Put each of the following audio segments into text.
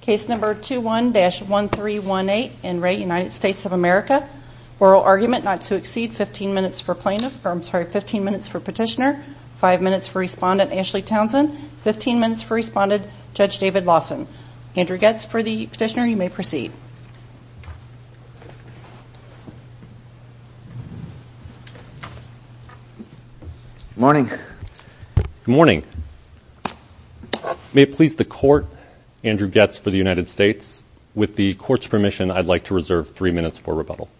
case number 2 1 dash 1 3 1 8 and rate United States of America oral argument not to exceed 15 minutes for plaintiff or I'm sorry 15 minutes for petitioner five minutes for respondent Ashley Townsend 15 minutes for respondent judge David Lawson Andrew gets for the petitioner you may proceed morning morning may please the court Andrew gets for the United States with the court's permission I'd like to reserve three minutes for rebuttal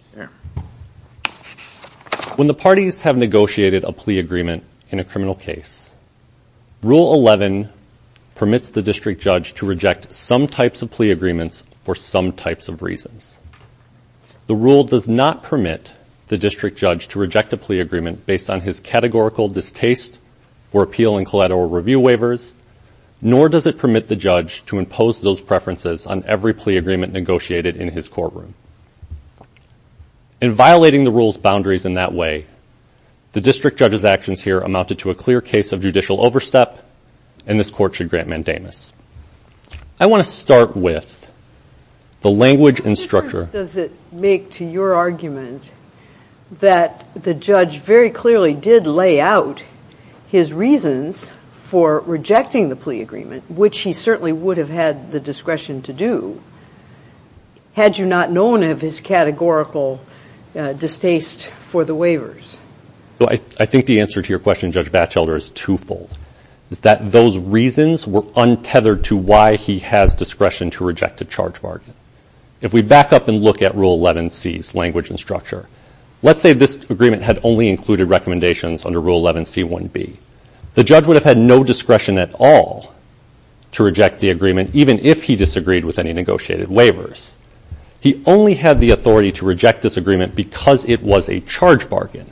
when the parties have negotiated a plea agreement in a criminal case rule 11 permits the district judge to reject some types of plea agreements for some the rule does not permit the district judge to reject a plea agreement based on his categorical distaste for appeal and collateral review waivers nor does it permit the judge to impose those preferences on every plea agreement negotiated in his courtroom in violating the rules boundaries in that way the district judge's actions here amounted to a clear case of judicial overstep and this court should grant mandamus I want to start with the language and structure does it make to your argument that the judge very clearly did lay out his reasons for rejecting the plea agreement which he certainly would have had the discretion to do had you not known of his categorical distaste for the waivers so I think the answer to your question judge Batchelder is twofold is that those reasons were untethered to why he has discretion to reject a charge if we back up and look at rule 11 C's language and structure let's say this agreement had only included recommendations under rule 11 C 1 B the judge would have had no discretion at all to reject the agreement even if he disagreed with any negotiated waivers he only had the authority to reject this agreement because it was a charge bargain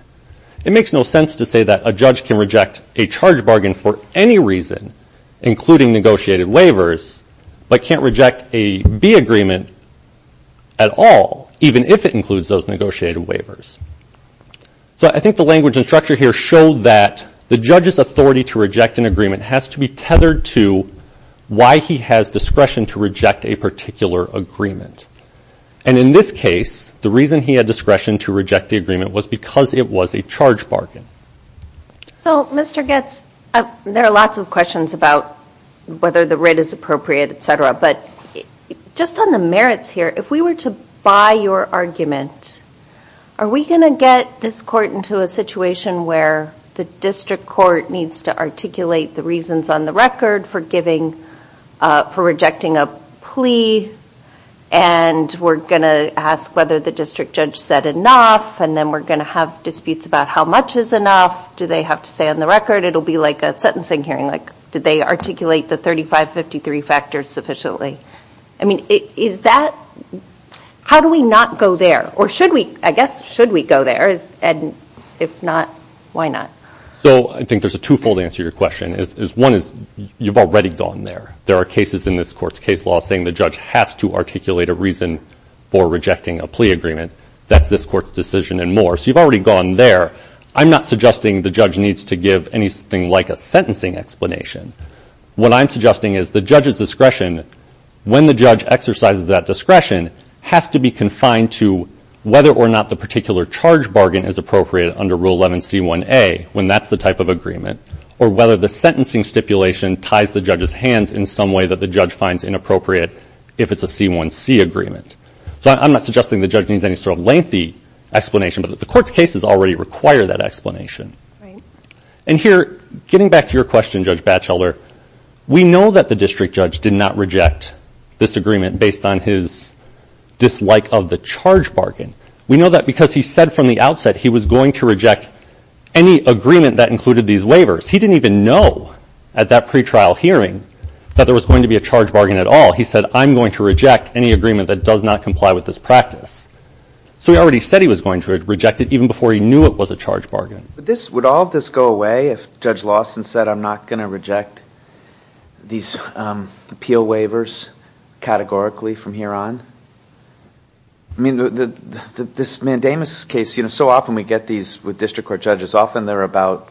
it makes no sense to say that a judge can reject a charge bargain for any reason including negotiated waivers but can't reject a B agreement at all even if it includes those negotiated waivers so I think the language and structure here showed that the judge's authority to reject an agreement has to be tethered to why he has discretion to reject a particular agreement and in this case the reason he had discretion to reject the agreement was because it was a charge bargain so mr. gets there are lots of questions about whether the rate is appropriate etc but just on the merits here if we were to buy your argument are we gonna get this court into a situation where the district court needs to articulate the reasons on the record for giving for rejecting a plea and we're gonna ask whether the district judge said enough and then we're gonna have disputes about how much is enough do they have to say on the record it'll be like a sentencing hearing like did they articulate the 3553 factors sufficiently I mean is that how do we not go there or should we I guess should we go there is and if not why not so I think there's a twofold answer your question is one is you've already gone there there are cases in this courts case law saying the judge has to articulate a reason for rejecting a plea agreement that's this court's decision and more so you've already gone there I'm not suggesting the judge needs to give anything like a sentencing explanation what I'm suggesting is the judge's discretion when the judge exercises that discretion has to be confined to whether or not the particular charge bargain is appropriate under rule 11 c1a when that's the type of agreement or whether the sentencing stipulation ties the judge's hands in some way that the judge finds inappropriate if it's a c1c agreement so I'm not suggesting the judge needs any sort of lengthy explanation but if the court's cases already require that explanation and here getting back to your question judge Batchelor we know that the district judge did not reject this agreement based on his dislike of the charge bargain we know that because he said from the outset he was going to reject any agreement that included these waivers he didn't even know at that pretrial hearing that there was going to be a charge bargain at all he said I'm going to reject any agreement that does not comply with this practice so he already said he was going to reject it even before he knew it was a charge bargain this would all this go away if judge Lawson said I'm not going to reject these appeal waivers categorically from here on I mean the this mandamus case you know so often we get these with district court judges often they're about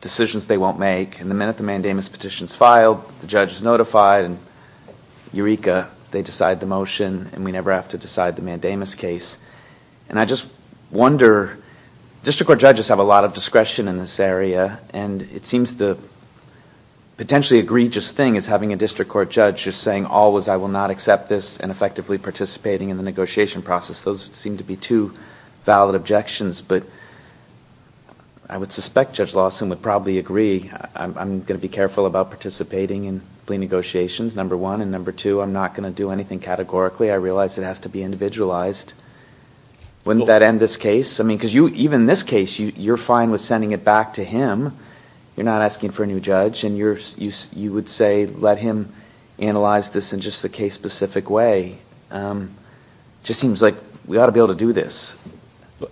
decisions they won't make and the minute the mandamus petitions filed the judge is notified and Eureka they decide the motion and we never have to decide the mandamus case and I just wonder district court judges have a lot of discretion in this area and it seems the potentially egregious thing is having a district court judge just saying always I will not accept this and effectively participating in the negotiation process those seem to be two valid objections but I would suspect judge Lawson would probably agree I'm going to be careful about participating in plea negotiations number one and number two I'm not going to do anything categorically I realize it has to be individualized wouldn't that end this case I mean because you even this case you you're fine with sending it back to him you're not asking for a new judge and you're you you would say let him analyze this in just the case specific way just seems like we ought to be able to do this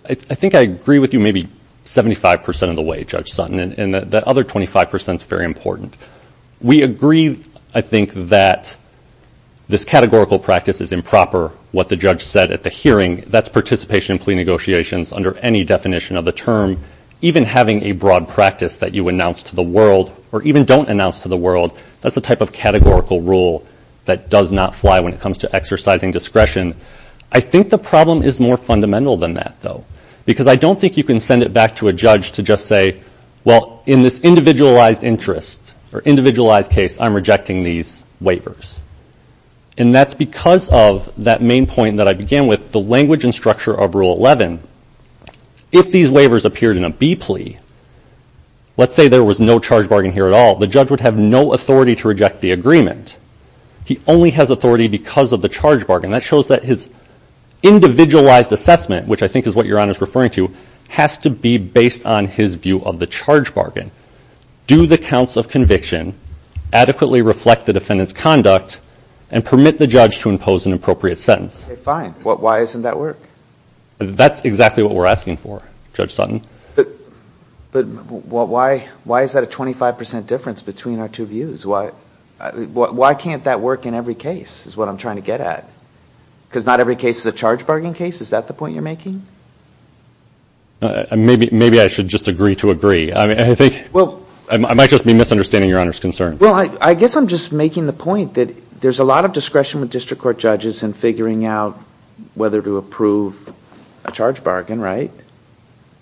I think I agree with you maybe 75% of the way judge Sutton and that other 25% is very important we agree I think that this categorical practice is improper what the judge said at the hearing that's participation plea negotiations under any definition of the term even having a broad practice that you announce to the world or even don't announce to the world that's the type of categorical rule that does not fly when it comes to exercising discretion I think the problem is more fundamental than that though because I don't think you can send it back to a judge to just say well in this individualized interest or individualized case I'm rejecting these waivers and that's because of that main point that I began with the language and structure of rule 11 if these waivers appeared in a B plea let's say there was no charge bargain here at all the judge would have no authority to reject the agreement he only has authority because of the charge bargain that shows that his individualized assessment which I think is what your honor is referring to has to be based on his view of the charge bargain do the counts of conviction adequately reflect the defendants conduct and permit the judge to impose an appropriate sentence fine what why isn't that work that's exactly what we're asking for judge Sutton but but what why why is that a 25% difference between our two views why why can't that work in every case is what I'm trying to get at because not every case is a charge bargain case is that the point you're making maybe maybe I should just agree to agree I mean I think well I might just be misunderstanding your honor's concern well I guess I'm just making the point that there's a lot of discretion with district court judges and figuring out whether to approve a charge bargain right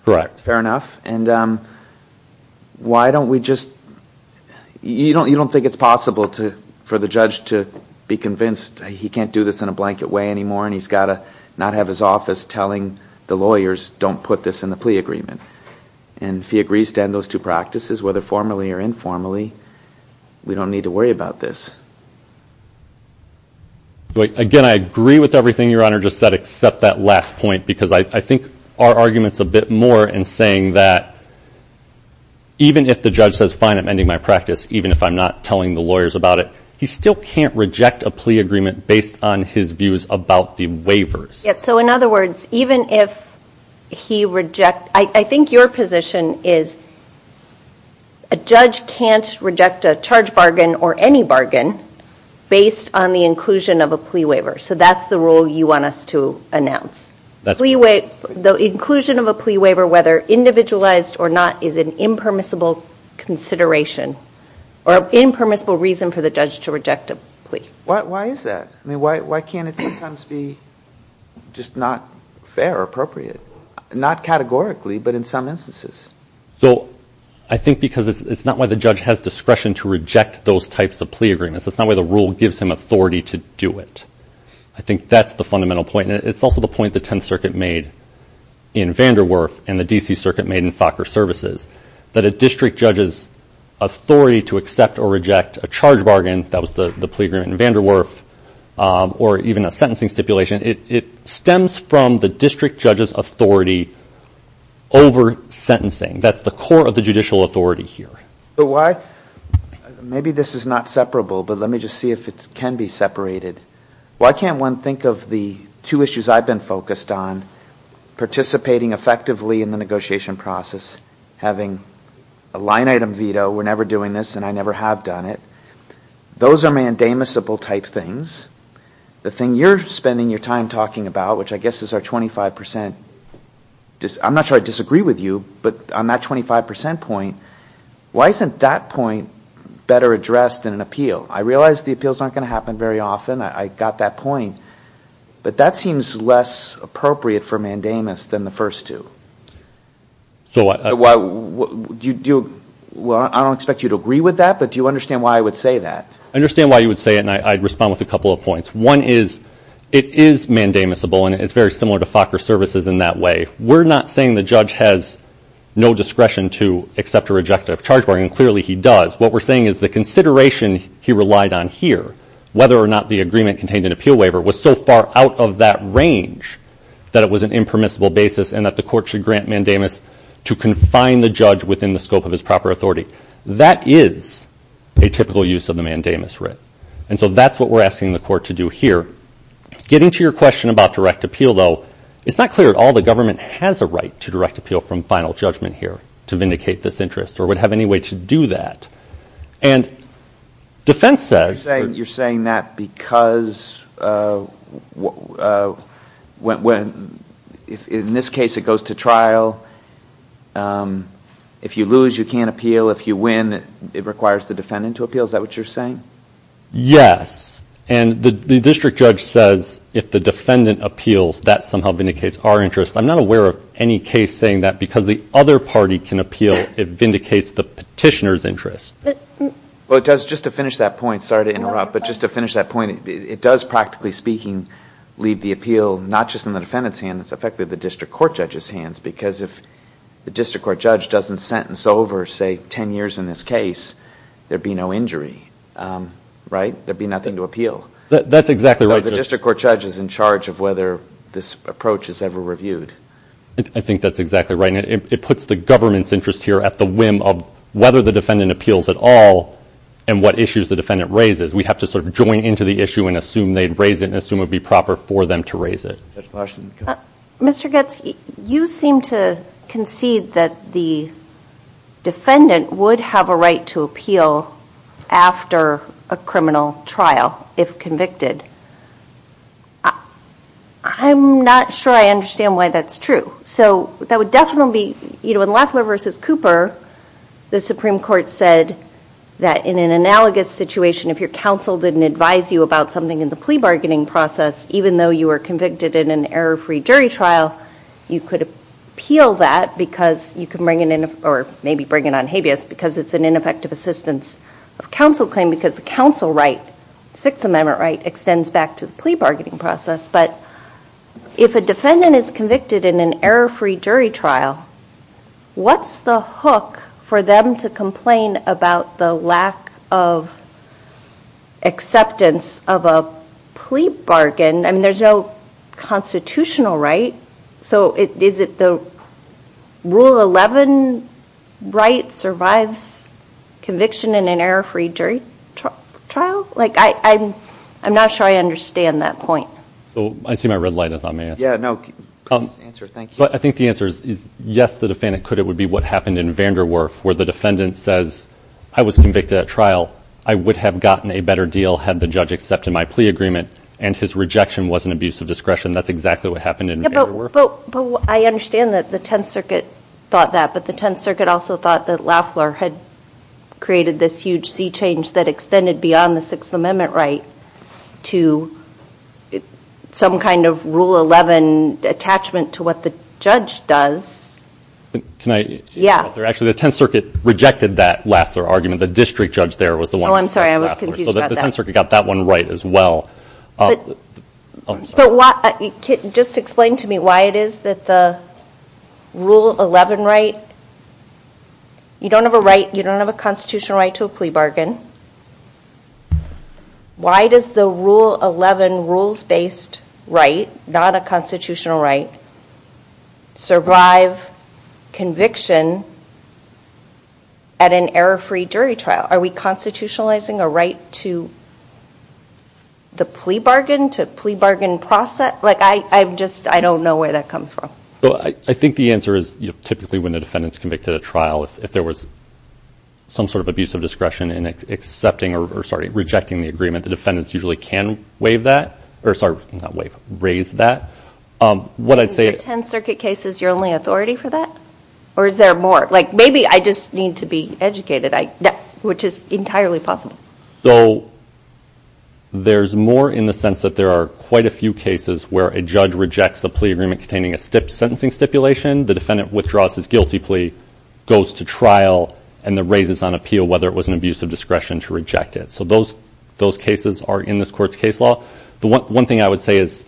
correct fair enough and why don't we just you don't you don't think it's possible to for the judge to be convinced he can't do this in a blanket way anymore and he's got to not have his office telling the lawyers don't put this in the plea agreement and if he agrees to end those two practices whether formally or informally we don't need to worry about this but again I agree with everything your honor just said except that last point because I think our arguments a bit more in saying that even if the judge says fine I'm not telling the lawyers about it he still can't reject a plea agreement based on his views about the waivers yes so in other words even if he reject I think your position is a judge can't reject a charge bargain or any bargain based on the inclusion of a plea waiver so that's the rule you want us to announce that's leeway the inclusion of a plea waiver whether individualized or not is an impermissible consideration or impermissible reason for the judge to reject a plea why is that I mean why can't it sometimes be just not fair or appropriate not categorically but in some instances so I think because it's not why the judge has discretion to reject those types of plea agreements that's not where the rule gives him authority to do it I think that's the fundamental point it's also the point the Tenth Circuit made in Vanderwerf and the DC Circuit made in Fokker services that a district judge's authority to accept or reject a charge bargain that was the the plea agreement in Vanderwerf or even a sentencing stipulation it stems from the district judge's authority over sentencing that's the core of the judicial authority here but why maybe this is not separable but let me just see if it can be separated why can't one think of the two issues I've been focused on participating effectively in the negotiation process having a line-item veto we're never doing this and I never have done it those are mandamusable type things the thing you're spending your time talking about which I guess is our 25% just I'm not sure I disagree with you but on that 25% point why isn't that point better addressed in an appeal I realize the appeals aren't going to happen very often I got that point but that seems less appropriate for mandamus than the first two so why do you do well I don't expect you to agree with that but do you understand why I would say that I understand why you would say it and I'd respond with a couple of points one is it is mandamusable and it's very similar to Fokker services in that way we're not saying the judge has no discretion to accept or reject a charge bargain clearly he does what we're saying is the consideration he relied on here whether or not the agreement contained an appeal waiver was so far out of that range that it was an impermissible basis and that the court should grant mandamus to confine the judge within the scope of his proper authority that is a typical use of the mandamus writ and so that's what we're asking the court to do here getting to your question about direct appeal though it's not clear at all the government has a right to direct appeal from final judgment here to vindicate this interest or would have any way to do that and defense says you're saying that because when in this case it goes to trial if you lose you can't appeal if you win it requires the defendant to appeal is that what you're saying yes and the district judge says if the defendant appeals that somehow vindicates our interests I'm not aware of any case saying that because the other party can appeal it vindicates the petitioner's interest well it does just to finish that point sorry to interrupt but just to finish that point it does practically speaking leave the appeal not just in the defendant's hand it's affected the district court judge's hands because if the district court judge doesn't sentence over say 10 years in this case there'd be no injury right there'd be nothing to appeal that's exactly right the district court judge is in charge of whether this approach is here at the whim of whether the defendant appeals at all and what issues the defendant raises we have to sort of join into the issue and assume they'd raise it and assume it'd be proper for them to raise it mr. Goetz you seem to concede that the defendant would have a right to appeal after a criminal trial if convicted I'm not sure I understand why that's true so that would definitely be you know in Loeffler versus Cooper the Supreme Court said that in an analogous situation if your counsel didn't advise you about something in the plea bargaining process even though you were convicted in an error-free jury trial you could appeal that because you can bring it in or maybe bring it on habeas because it's an ineffective assistance of counsel claim because the counsel right Sixth Amendment right extends back to the plea bargaining process but if a defendant is convicted in an error-free jury trial what's the hook for them to complain about the lack of acceptance of a plea bargain and there's no constitutional right so it is it the rule 11 right survives conviction in an error-free jury trial like I I'm I'm not sure I understand that point oh I see my red light is on man yeah no but I think the answer is yes the defendant could it would be what happened in Vanderwerf where the defendant says I was convicted at trial I would have gotten a better deal had the judge accepted my plea agreement and his rejection was an abuse of discretion that's exactly what happened in but I understand that the Tenth Circuit thought that but the Tenth Circuit also thought that Loeffler had created this huge sea change that extended beyond the Sixth Amendment right to some kind of rule 11 attachment to what the judge does can I yeah they're actually the Tenth Circuit rejected that Loeffler argument the district judge there was the one I'm sorry I was confused about that. So the Tenth Circuit got that one right as well but what just explain to me why it is that the rule 11 right you don't have a constitutional right to a plea bargain why does the rule 11 rules-based right not a constitutional right survive conviction at an error-free jury trial are we constitutionalizing a right to the plea bargain to plea bargain process like I I'm just I don't know where that comes from. Well I think the answer is typically when the defendants convicted a trial if there was some sort of abuse of discretion in accepting or sorry rejecting the agreement the defendants usually can waive that or sorry not waive raise that what I'd say. In the Tenth Circuit case is your only authority for that or is there more like maybe I just need to be educated I which is entirely possible. So there's more in the sense that there are quite a few cases where a judge rejects a plea agreement containing a sentencing stipulation the defendant withdraws his guilty plea goes to trial and the raises on appeal whether it was an abuse of discretion to reject it. So those those cases are in this court's case law. The one thing I would say is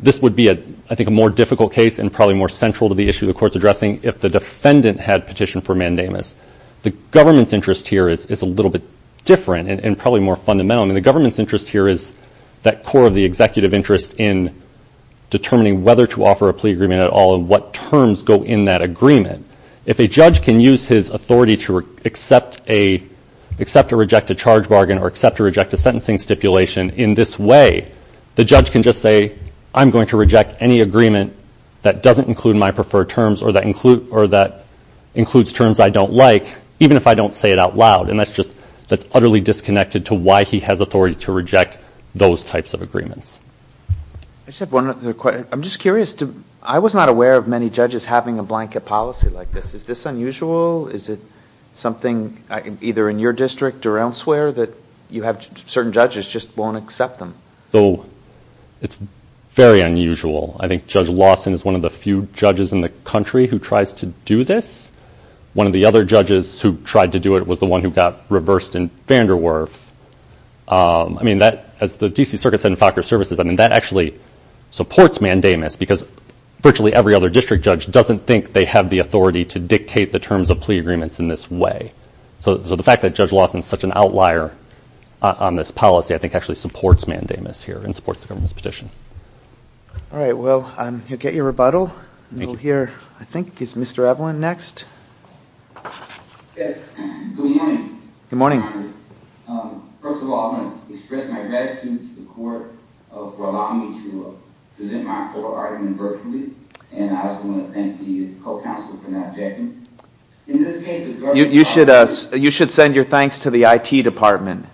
this would be a I think a more difficult case and probably more central to the issue the courts addressing if the defendant had petitioned for mandamus. The government's interest here is a little bit different and probably more fundamental and the government's interest here is that core of the at all of what terms go in that agreement. If a judge can use his authority to accept a accept or reject a charge bargain or accept or reject a sentencing stipulation in this way the judge can just say I'm going to reject any agreement that doesn't include my preferred terms or that include or that includes terms I don't like even if I don't say it out loud and that's just that's utterly disconnected to why he has authority to reject those types of I'm not aware of many judges having a blanket policy like this. Is this unusual? Is it something either in your district or elsewhere that you have certain judges just won't accept them? So it's very unusual. I think Judge Lawson is one of the few judges in the country who tries to do this. One of the other judges who tried to do it was the one who got reversed in Vanderwerf. I mean that as the DC Circuit Center FACR services I mean that actually supports mandamus because virtually every other district judge doesn't think they have the authority to dictate the terms of plea agreements in this way. So the fact that Judge Lawson is such an outlier on this policy I think actually supports mandamus here and supports the government's petition. All right well I'm here get your rebuttal. Here I think is Mr. Evelyn next. Good morning. First of all, I want to express my gratitude to the court for allowing me to present my court argument virtually. And I also want to thank the co-counsel for not objecting. You should send your thanks to the IT department.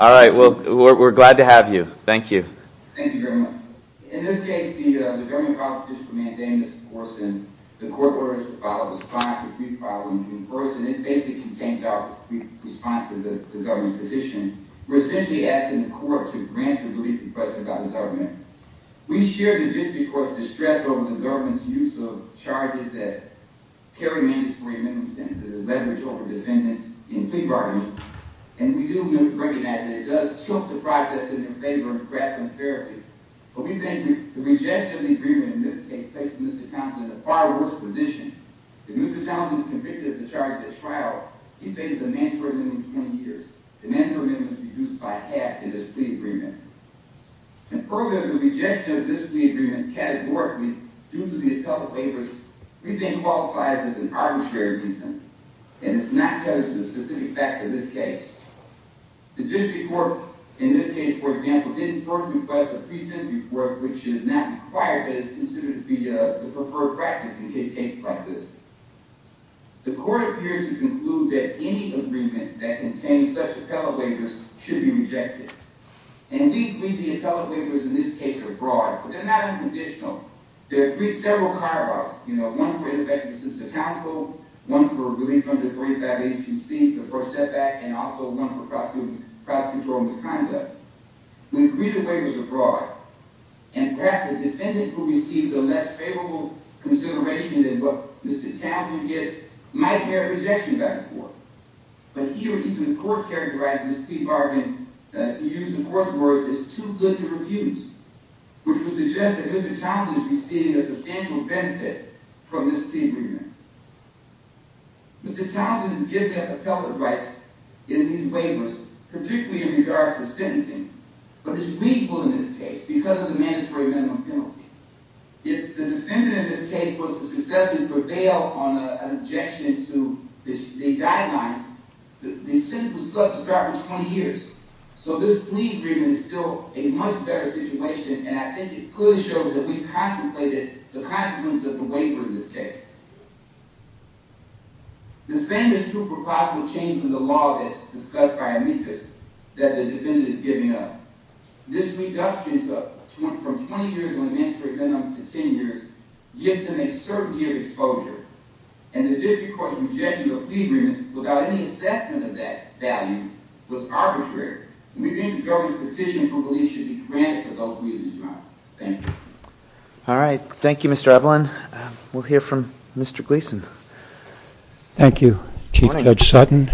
All right, well we're glad to have you. Thank you. In this case, the government proposition for mandamus supports the court orders to follow the spying for free filing. First, it basically contains our response to the government petition. We're essentially asking the court to grant the belief expressed about the government. We share the district court's distress over the government's use of charges that carry mandatory amendment sentences as leverage over defendants in plea bargaining. And we do recognize that it does tilt the process in their favor to grab some therapy. But we think the rejection of the agreement in this case puts Mr. Townsend in a far worse position. If Mr. Townsend is convicted of the charge at trial, he faces a mandatory amendment of 20 years. The mandatory amendment is reduced by half in this plea agreement. And further, the rejection of this plea agreement categorically, due to the appellate waivers, we think qualifies as an arbitrary reason. And it's not judged with specific facts in this case. The district court, in this case, for example, didn't first request a pre-sentence report, which is not required, but is considered to be the preferred practice in case cases like this. The court appears to conclude that any agreement that contains such appellate waivers should be rejected. And we believe the appellate waivers in this case are broad, but they're not unconditional. There have been several clear-cuts, you know, one for ineffective assistance to counsel, one for relief under 35HUC, the first step back, and also one for prosecutorial misconduct. When greater waivers are brought, and perhaps the defendant will receive the less favorable consideration than what Mr. Townsend gets, might there be a rejection back and forth. But here, even the court characterizes this plea bargain, to use the court's words, as too good to refuse, which would suggest that Mr. Townsend is receiving a substantial benefit from this plea agreement. Mr. Townsend is guilty of appellate rights in these waivers, particularly in regards to sentencing, but is reasonable in this case because of the mandatory minimum penalty. If the defendant in this case was to successfully prevail on an objection to the guidelines, the sentence would still have to start from 20 years. So this plea agreement is still a much better situation, and I think it clearly shows that we contemplated the consequences of the waiver in this case. The same is true for possible changes in the law that's discussed by amicus that the defendant is giving up. This reduction from 20 years of mandatory minimum to 10 years gives them a certainty of exposure, and the district court's objection to a plea agreement without any assessment of that value was arbitrary, and we think the government's petition for relief should be granted for those reasons, Your Honor. Thank you. Mr. Gleeson. Thank you, Chief Judge Sutton.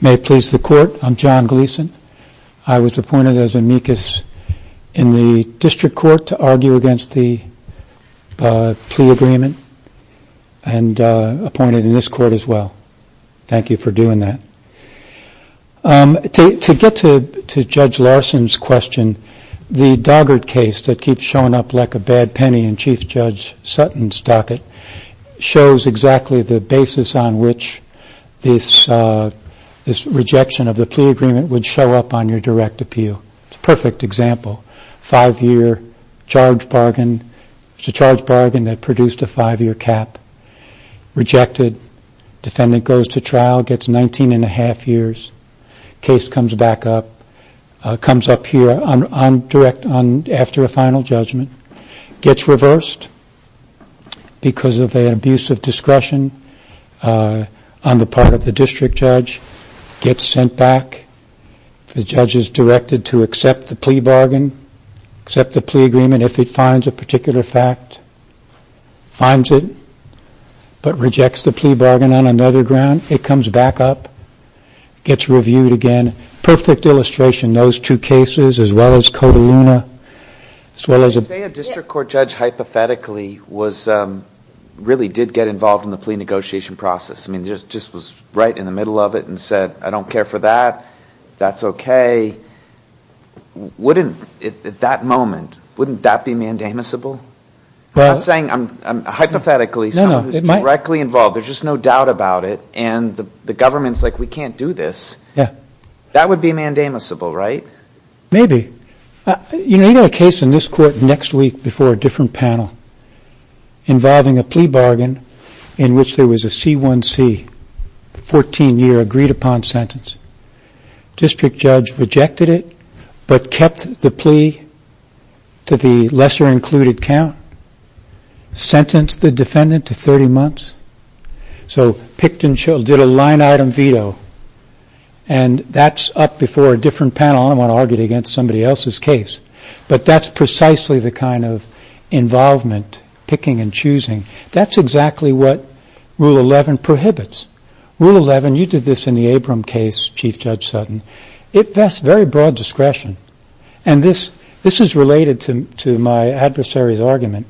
May it please the Court, I'm John Gleeson. I was appointed as amicus in the district court to argue against the plea agreement, and appointed in this court as well. Thank you for doing that. To get to Judge Larson's question, the Doggart case that keeps showing up like a bad penny in Chief Judge Sutton's docket shows exactly the basis on which this rejection of the plea agreement would show up on your direct appeal. It's a perfect example. Five-year charge bargain. It's a charge bargain that produced a five-year cap. Rejected. Defendant goes to trial, gets 19 and a half years. Case comes back up. Comes up here after a final judgment. Gets reversed because of an abuse of discretion on the part of the district judge. Gets sent back. The judge is directed to accept the plea bargain, accept the plea agreement if it finds a particular fact. Finds it, but rejects the plea bargain on another ground. It comes back up. Gets reviewed again. Perfect illustration. Those two cases, as well as Cotaluna. I would say a district court judge hypothetically really did get involved in the plea negotiation process. Just was right in the middle of it and said, I don't care for that. That's okay. At that moment, wouldn't that be mandamusable? Hypothetically, someone who's directly involved, there's just no doubt about it, and the government's like, we can't do this. That would be mandamusable, right? Maybe. You know a case in this court next week before a different panel involving a plea bargain in which there was a C1C, 14-year agreed upon sentence. District judge rejected it, but kept the plea to the lesser included count. Sentenced the defendant to 30 months. So picked and did a line item veto. And that's up before a different panel. I don't want to argue it against somebody else's case. But that's precisely the kind of involvement, picking and choosing. That's exactly what Rule 11 prohibits. Rule 11, you did this in the Abram case, Chief Judge Sutton. It vests very broad discretion. And this is related to my adversary's argument.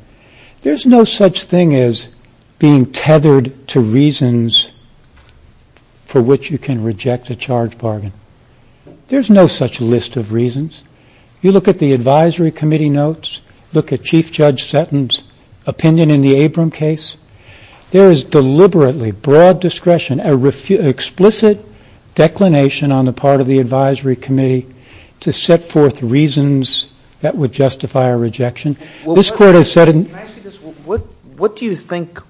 There's no such thing as being tethered to reasons for which you can reject a charge bargain. There's no such list of reasons. You look at the advisory committee notes, look at Chief Judge Sutton's opinion in the Abram case, there is deliberately broad discretion, explicit declination on the part of the advisory committee to set forth reasons that would justify a rejection. What do you think,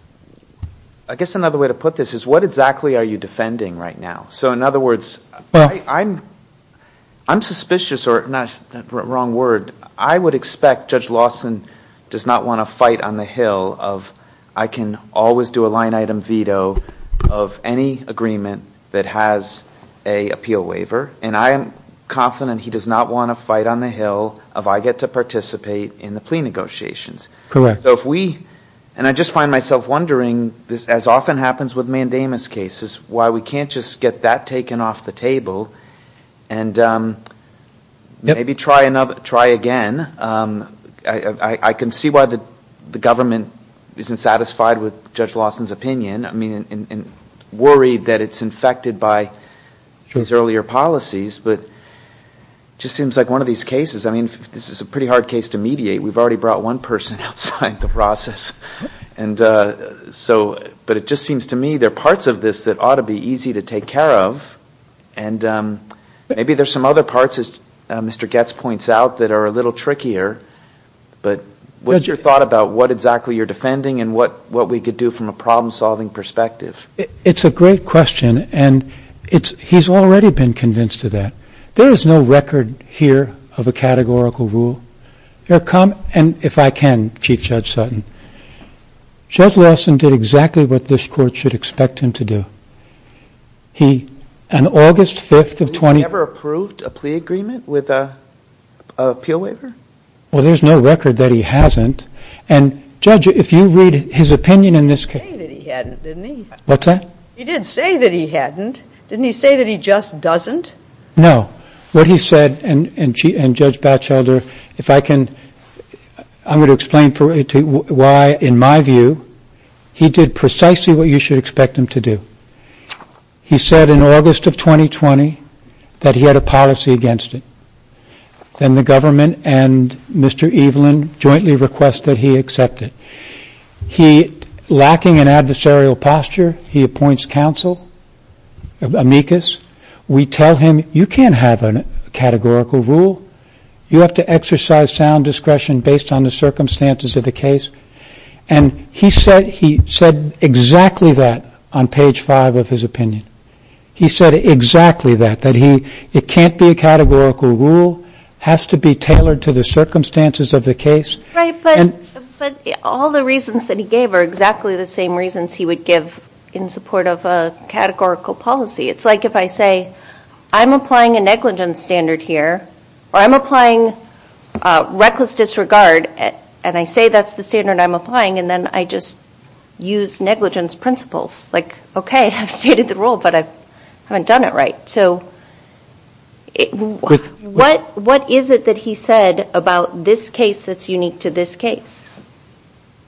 I guess another way to put this is what exactly are you defending right now? So in other words, I'm suspicious, or wrong word, I would expect Judge Lawson does not want to fight on the hill of I can always do a line item veto of any agreement that has a appeal waiver. And I am confident he does not want to fight on the hill of I get to participate in the plea negotiations. Correct. And I just find myself wondering, as often happens with mandamus cases, why we can't just get that taken off the table and maybe try again. I can see why the government isn't satisfied with Judge Lawson's opinion. I mean, worried that it's infected by his earlier policies. But it just seems like one of these cases, I mean, this is a pretty hard case to mediate. We've already brought one person outside the process. And so, but it just seems to me there are parts of this that ought to be easy to take care of. And maybe there's some other parts, as Mr. Goetz points out, that are a little trickier. But what's your thought about what exactly you're defending and what we could do from a problem-solving perspective? It's a great question. And he's already been convinced of that. There is no record here of a categorical rule. And if I can, Chief Judge Sutton, Judge Lawson did exactly what this Court should expect him to do. He, on August 5th of 20- He's never approved a plea agreement with an appeal waiver? Well, there's no record that he hasn't. And, Judge, if you read his opinion in this case- What's that? He did say that he hadn't. Didn't he say that he just doesn't? No. What he said, and, Judge Batchelder, if I can, I'm going to explain why, in my view, he did precisely what you should expect him to do. He said in August of 2020 that he had a policy against it. Then the government and Mr. Evelyn jointly requested he accept it. He, lacking an adversarial posture, he appoints counsel, amicus. We tell him, you can't have a categorical rule. You have to exercise sound discretion based on the circumstances of the case. And he said exactly that on page 5 of his opinion. He said exactly that, that it can't be a categorical rule, has to be tailored to the circumstances of the case. Right, but all the reasons that he gave are exactly the same reasons he would give in support of a categorical policy. It's like if I say, I'm applying a negligence standard here, or I'm applying reckless disregard, and I say that's the standard I'm applying, and then I just use negligence principles. Like, okay, I've stated the rule, but I haven't done it right. What is it that he said about this case that's unique to this case?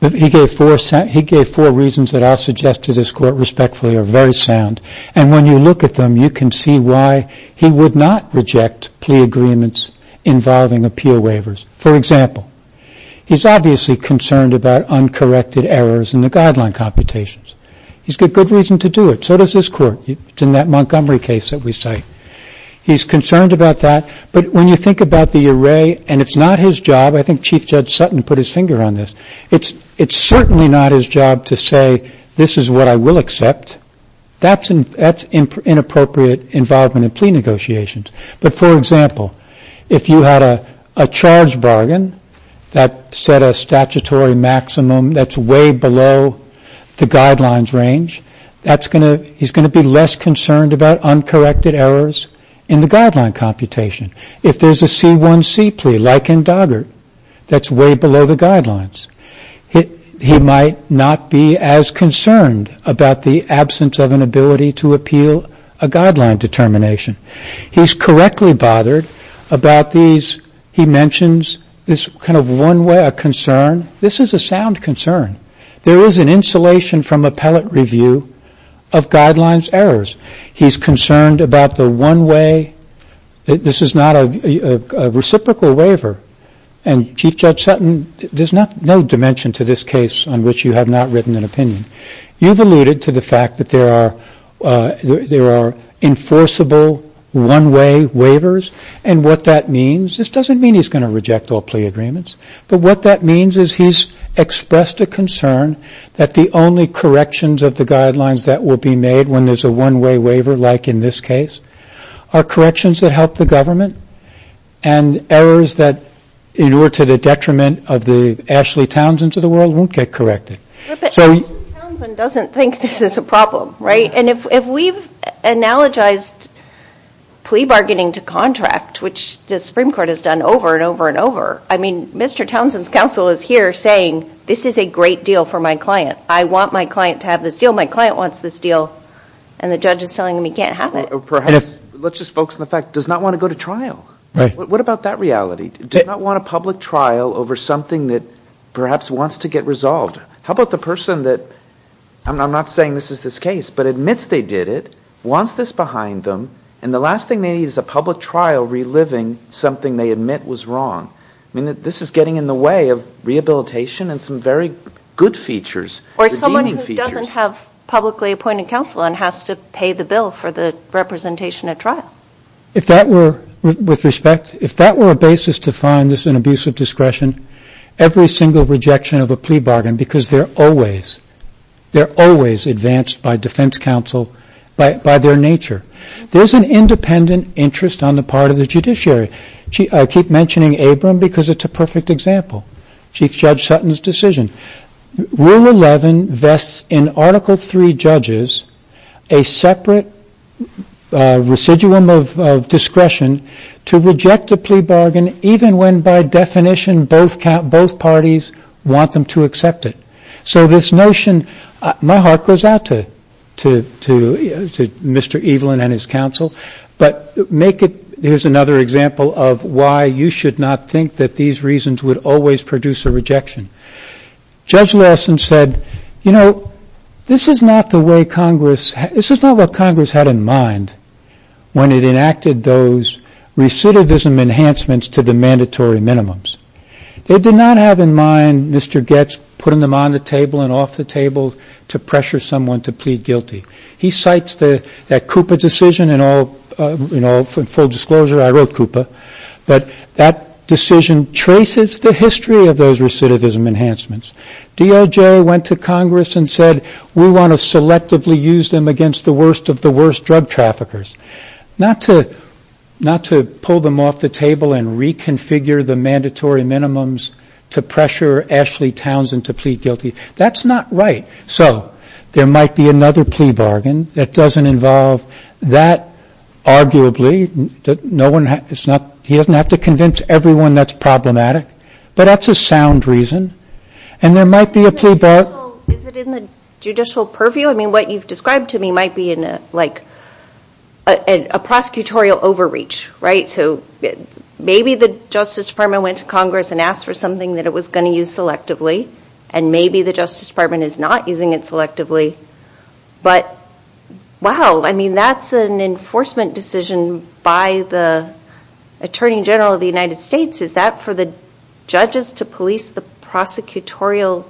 He gave four reasons that I'll suggest to this Court respectfully are very sound. And when you look at them, you can see why he would not reject plea agreements involving appeal waivers. For example, he's obviously concerned about uncorrected errors in the guideline computations. He's got good reason to do it. So does this Court. It's in that Montgomery case that we cite. He's concerned about that. But when you think about the array, and it's not his job. I think Chief Judge Sutton put his finger on this. It's certainly not his job to say, this is what I will accept. That's inappropriate involvement in plea negotiations. But, for example, if you had a charge bargain that set a statutory maximum that's way below the guidelines range, he's going to be less concerned about uncorrected errors in the guideline computation. If there's a C1C plea, like in Doggart, that's way below the guidelines. He might not be as concerned about the absence of an ability to appeal a guideline determination. He's correctly bothered about these. He mentions this kind of one-way concern. This is a sound concern. There is an insulation from appellate review of guidelines errors. He's concerned about the one-way. This is not a reciprocal waiver. And, Chief Judge Sutton, there's no dimension to this case on which you have not written an opinion. You've alluded to the fact that there are enforceable one-way waivers and what that means. This doesn't mean he's going to reject all plea agreements. But what that means is he's expressed a concern that the only corrections of the guidelines that will be made when there's a one-way waiver, like in this case, are corrections that help the government and errors that, in order to the detriment of the Ashley Townsend's of the world, won't get corrected. But Mr. Townsend doesn't think this is a problem, right? And if we've analogized plea bargaining to contract, which the Supreme Court has done over and over and over, I mean, Mr. Townsend's counsel is here saying, this is a great deal for my client. I want my client to have this deal. My client wants this deal. And the judge is telling him he can't have it. Perhaps, let's just focus on the fact, does not want to go to trial. Right. What about that reality? Does not want a public trial over something that perhaps wants to get resolved. How about the person that, I'm not saying this is this case, but admits they did it, wants this behind them, and the last thing they need is a public trial reliving something they admit was wrong. I mean, this is getting in the way of rehabilitation and some very good features, redeeming features. Or someone who doesn't have publicly appointed counsel and has to pay the bill for the representation at trial. Now, if that were, with respect, if that were a basis to find this an abuse of discretion, every single rejection of a plea bargain, because they're always, they're always advanced by defense counsel, by their nature. There's an independent interest on the part of the judiciary. I keep mentioning Abram because it's a perfect example. Chief Judge Sutton's decision. Rule 11 vests in Article 3 judges a separate residuum of discretion to reject a plea bargain, even when by definition both parties want them to accept it. So this notion, my heart goes out to Mr. Evelyn and his counsel, but make it, here's another example of why you should not think that these reasons would always produce a rejection. Judge Lawson said, you know, this is not the way Congress, this is not what Congress had in mind when it enacted those recidivism enhancements to the mandatory minimums. They did not have in mind Mr. Goetz putting them on the table and off the table to pressure someone to plead guilty. He cites that CUPA decision in all, you know, full disclosure, I wrote CUPA, but that decision traces the history of those recidivism enhancements. DOJ went to Congress and said, we want to selectively use them against the worst of the worst drug traffickers. Not to pull them off the table and reconfigure the mandatory minimums to pressure Ashley Townsend to plead guilty. That's not right. So there might be another plea bargain that doesn't involve that arguably, he doesn't have to convince everyone that's problematic, but that's a sound reason. And there might be a plea bargain. Is it in the judicial purview? I mean, what you've described to me might be like a prosecutorial overreach, right? So maybe the Justice Department went to Congress and asked for something that it was going to use selectively, and maybe the Justice Department is not using it selectively. But, wow, I mean, that's an enforcement decision by the Attorney General of the United States. Is that for the judges to police the prosecutorial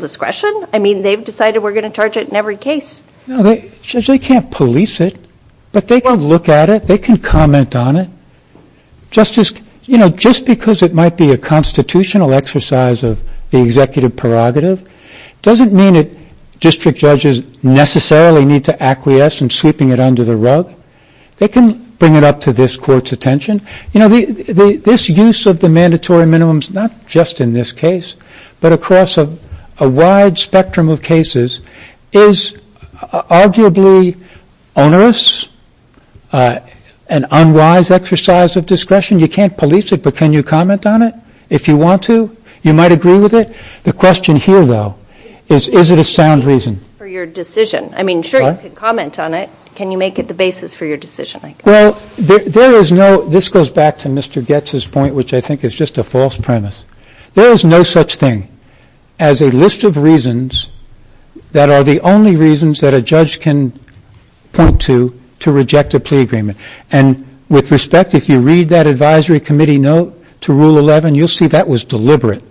discretion? I mean, they've decided we're going to charge it in every case. No, they can't police it, but they can look at it. They can comment on it. Justice, you know, just because it might be a constitutional exercise of the executive prerogative doesn't mean that district judges necessarily need to acquiesce in sweeping it under the rug. They can bring it up to this Court's attention. You know, this use of the mandatory minimums, not just in this case, but across a wide spectrum of cases is arguably onerous, an unwise exercise of discretion. You can't police it, but can you comment on it if you want to? You might agree with it. The question here, though, is, is it a sound reason? For your decision. I mean, sure, you can comment on it. Can you make it the basis for your decision? Well, there is no – this goes back to Mr. Goetz's point, which I think is just a false premise. There is no such thing as a list of reasons that are the only reasons that a judge can point to to reject a plea agreement. And with respect, if you read that advisory committee note to Rule 11, you'll see that was deliberate.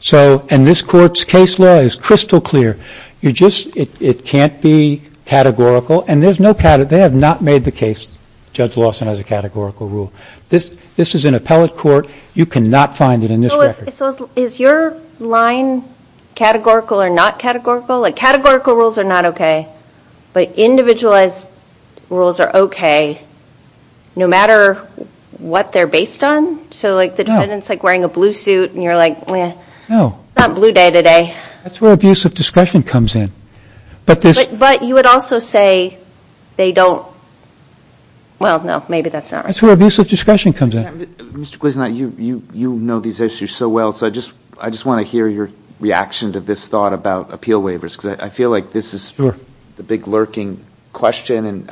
So – and this Court's case law is crystal clear. You just – it can't be categorical, and there's no – they have not made the case, Judge Lawson, as a categorical rule. This is an appellate court. You cannot find it in this record. So is your line categorical or not categorical? Like, categorical rules are not okay. But individualized rules are okay, no matter what they're based on? So, like, the defendant's, like, wearing a blue suit, and you're like, meh. No. It's not blue day today. That's where abusive discretion comes in. But this – But you would also say they don't – well, no, maybe that's not right. That's where abusive discretion comes in. Mr. Gleeson, you know these issues so well, so I just want to hear your reaction to this thought about appeal waivers, because I feel like this is the big lurking question, and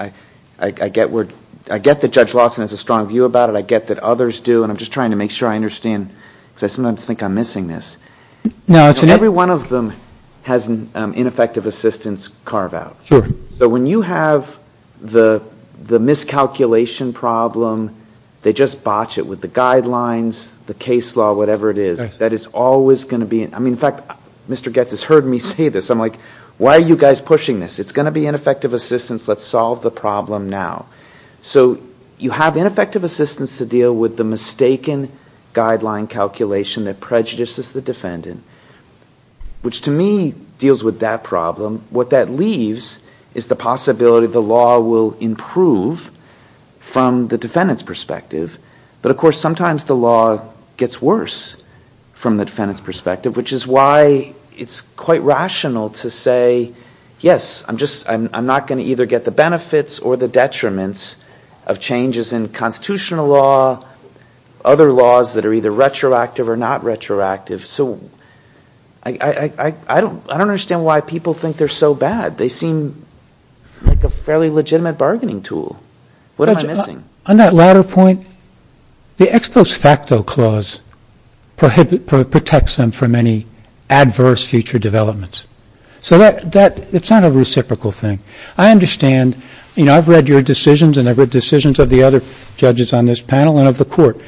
I get where – I get that Judge Lawson has a strong view about it. I get that others do, and I'm just trying to make sure I understand, because I sometimes think I'm missing this. No, it's – Every one of them has an ineffective assistance carve-out. Sure. But when you have the miscalculation problem, they just botch it with the guidelines, the case law, whatever it is. That is always going to be – I mean, in fact, Mr. Goetz has heard me say this. I'm like, why are you guys pushing this? It's going to be ineffective assistance. Let's solve the problem now. So you have ineffective assistance to deal with the mistaken guideline calculation that prejudices the defendant, which to me deals with that problem. What that leaves is the possibility the law will improve from the defendant's perspective. But, of course, sometimes the law gets worse from the defendant's perspective, which is why it's quite rational to say, yes, I'm just – I'm not going to either get the benefits or the detriments of changes in constitutional law, other laws that are either retroactive or not retroactive. So I don't understand why people think they're so bad. They seem like a fairly legitimate bargaining tool. What am I missing? Judge, on that latter point, the ex post facto clause protects them from any adverse future developments. So that – it's not a reciprocal thing. I understand – you know, I've read your decisions and I've read decisions of the other judges on this panel and of the court.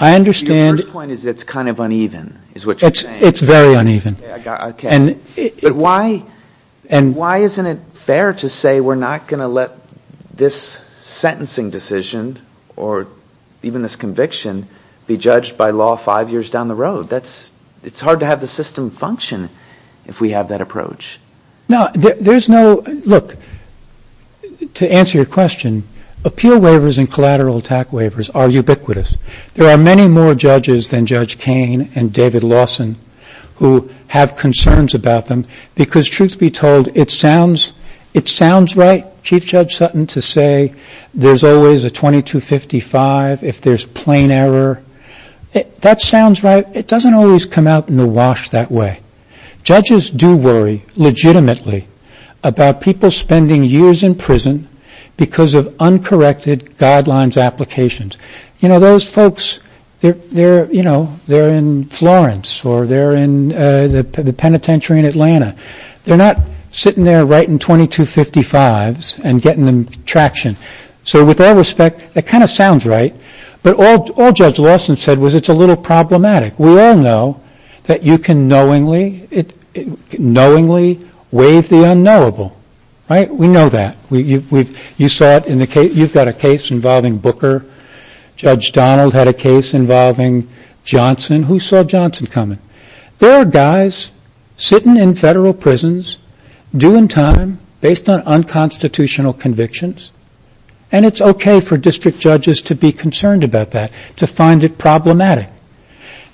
I understand – Your first point is it's kind of uneven, is what you're saying. It's very uneven. Okay. But why isn't it fair to say we're not going to let this sentencing decision or even this conviction be judged by law five years down the road? It's hard to have the system function if we have that approach. No, there's no – look, to answer your question, appeal waivers and collateral attack waivers are ubiquitous. There are many more judges than Judge Kain and David Lawson who have concerns about them because, truth be told, it sounds right, Chief Judge Sutton, to say there's always a 2255 if there's plain error. That sounds right. It doesn't always come out in the wash that way. Judges do worry legitimately about people spending years in prison because of uncorrected guidelines applications. You know, those folks, they're in Florence or they're in the penitentiary in Atlanta. They're not sitting there writing 2255s and getting them traction. So with all respect, that kind of sounds right, but all Judge Lawson said was it's a little problematic. We all know that you can knowingly waive the unknowable, right? We know that. You've got a case involving Booker. Judge Donald had a case involving Johnson. Who saw Johnson coming? There are guys sitting in federal prisons, due in time, based on unconstitutional convictions, and it's okay for district judges to be concerned about that, to find it problematic.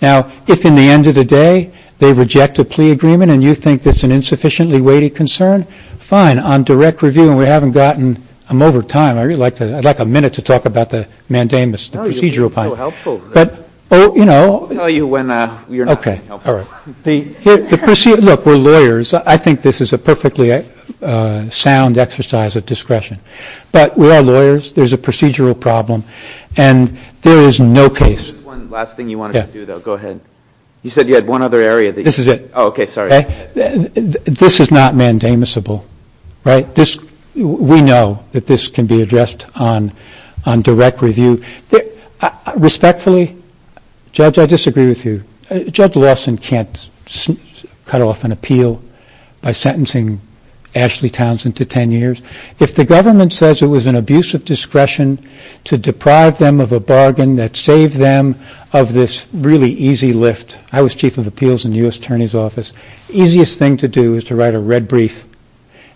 Now, if in the end of the day they reject a plea agreement and you think that's an insufficiently weighty concern, fine. And on direct review, and we haven't gotten, I'm over time, I'd like a minute to talk about the mandamus, the procedural part. No, you're being so helpful. I'll tell you when you're not being helpful. Okay, all right. Look, we're lawyers. I think this is a perfectly sound exercise of discretion. But we are lawyers. There's a procedural problem, and there is no case. One last thing you wanted to do, though. Go ahead. You said you had one other area. This is it. Oh, okay, sorry. This is not mandamusable, right? We know that this can be addressed on direct review. Respectfully, Judge, I disagree with you. Judge Lawson can't cut off an appeal by sentencing Ashley Townsend to ten years. If the government says it was an abuse of discretion to deprive them of a bargain that saved them of this really easy lift, I was Chief of Appeals in the U.S. Attorney's Office. The easiest thing to do is to write a red brief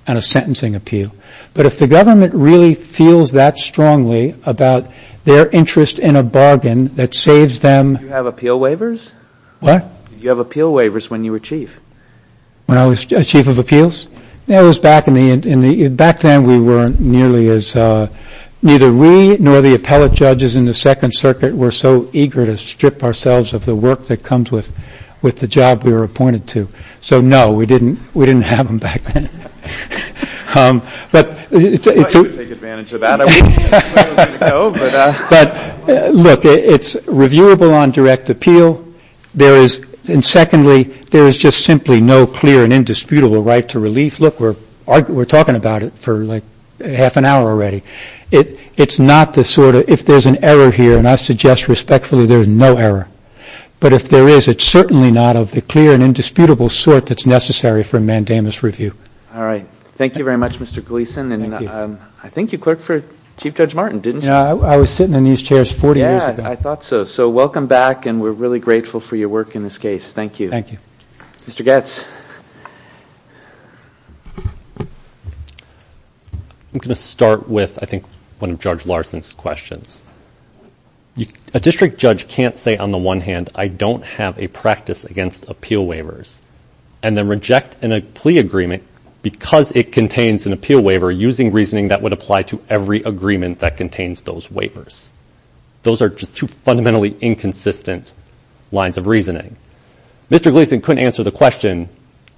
on a sentencing appeal. But if the government really feels that strongly about their interest in a bargain that saves them. Did you have appeal waivers? What? Did you have appeal waivers when you were Chief? When I was Chief of Appeals? Back then we weren't nearly as – neither we nor the appellate judges in the Second Circuit were so eager to strip ourselves of the work that comes with the job we were appointed to. So, no, we didn't have them back then. I thought you would take advantage of that. Look, it's reviewable on direct appeal. And secondly, there is just simply no clear and indisputable right to relief. Look, we're talking about it for like half an hour already. It's not the sort of – if there's an error here, and I suggest respectfully there's no error. But if there is, it's certainly not of the clear and indisputable sort that's necessary for mandamus review. All right. Thank you very much, Mr. Gleason. Thank you. And I think you clerked for Chief Judge Martin, didn't you? Yeah, I was sitting in these chairs 40 years ago. Yeah, I thought so. So welcome back, and we're really grateful for your work in this case. Thank you. Thank you. Mr. Goetz. I'm going to start with, I think, one of Judge Larson's questions. A district judge can't say, on the one hand, I don't have a practice against appeal waivers and then reject a plea agreement because it contains an appeal waiver using reasoning that would apply to every agreement that contains those waivers. Those are just two fundamentally inconsistent lines of reasoning. Mr. Gleason couldn't answer the question,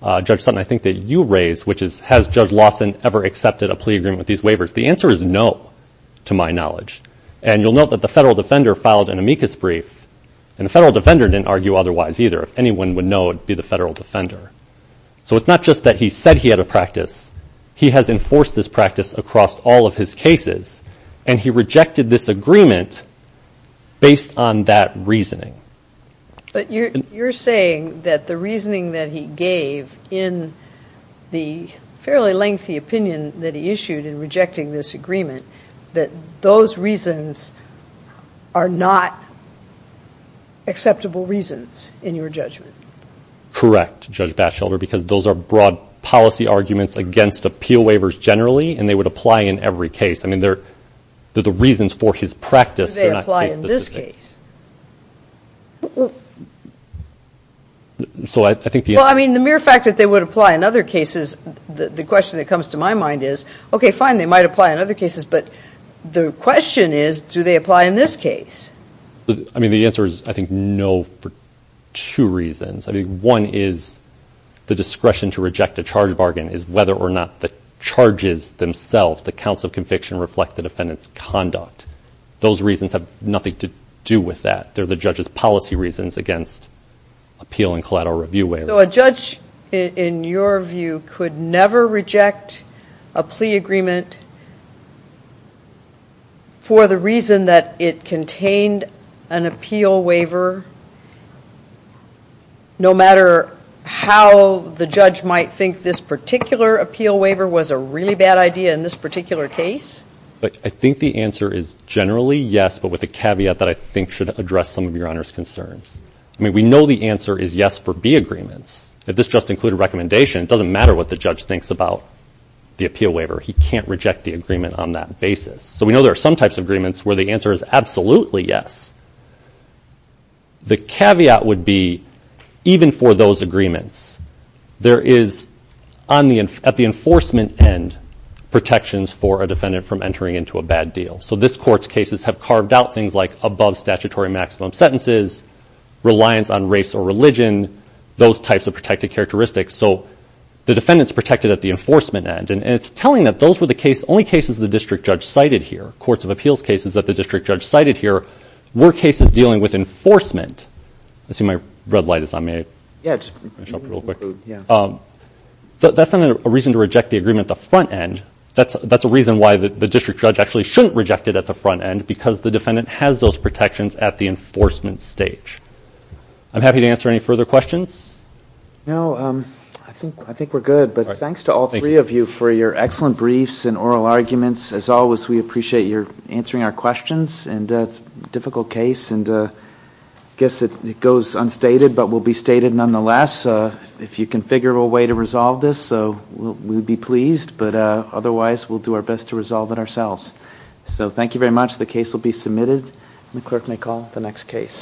Judge Sutton, I think that you raised, which is, has Judge Larson ever accepted a plea agreement with these waivers? The answer is no, to my knowledge. And you'll note that the federal defender filed an amicus brief, and the federal defender didn't argue otherwise either. If anyone would know, it would be the federal defender. So it's not just that he said he had a practice. He has enforced this practice across all of his cases, and he rejected this agreement based on that reasoning. But you're saying that the reasoning that he gave in the fairly lengthy opinion that he issued in rejecting this agreement, that those reasons are not acceptable reasons in your judgment? Correct, Judge Batchelder, because those are broad policy arguments against appeal waivers generally, and they would apply in every case. I mean, they're the reasons for his practice. But do they apply in this case? Well, I mean, the mere fact that they would apply in other cases, the question that comes to my mind is, okay, fine, they might apply in other cases, but the question is, do they apply in this case? I mean, the answer is, I think, no, for two reasons. I mean, one is the discretion to reject a charge bargain is whether or not the charges themselves, the counts of conviction, reflect the defendant's conduct. Those reasons have nothing to do with that. They're the judge's policy reasons against appeal and collateral review waivers. So a judge, in your view, could never reject a plea agreement for the reason that it contained an appeal waiver, no matter how the judge might think this particular appeal waiver was a really bad idea in this particular case? I think the answer is generally yes, but with a caveat that I think should address some of Your Honor's concerns. I mean, we know the answer is yes for B agreements. If this just included recommendation, it doesn't matter what the judge thinks about the appeal waiver. He can't reject the agreement on that basis. So we know there are some types of agreements where the answer is absolutely yes. The caveat would be, even for those agreements, there is, at the enforcement end, protections for a defendant from entering into a bad deal. So this Court's cases have carved out things like above statutory maximum sentences, reliance on race or religion, those types of protected characteristics. So the defendant's protected at the enforcement end. And it's telling that those were the only cases the district judge cited here, courts of appeals cases that the district judge cited here, were cases dealing with enforcement. I see my red light is on. That's not a reason to reject the agreement at the front end. That's a reason why the district judge actually shouldn't reject it at the front end, because the defendant has those protections at the enforcement stage. I'm happy to answer any further questions. No, I think we're good. But thanks to all three of you for your excellent briefs and oral arguments. As always, we appreciate your answering our questions. It's a difficult case, and I guess it goes unstated, but will be stated nonetheless. If you can figure a way to resolve this, we would be pleased. But otherwise, we'll do our best to resolve it ourselves. So thank you very much. The case will be submitted, and the clerk may call the next case.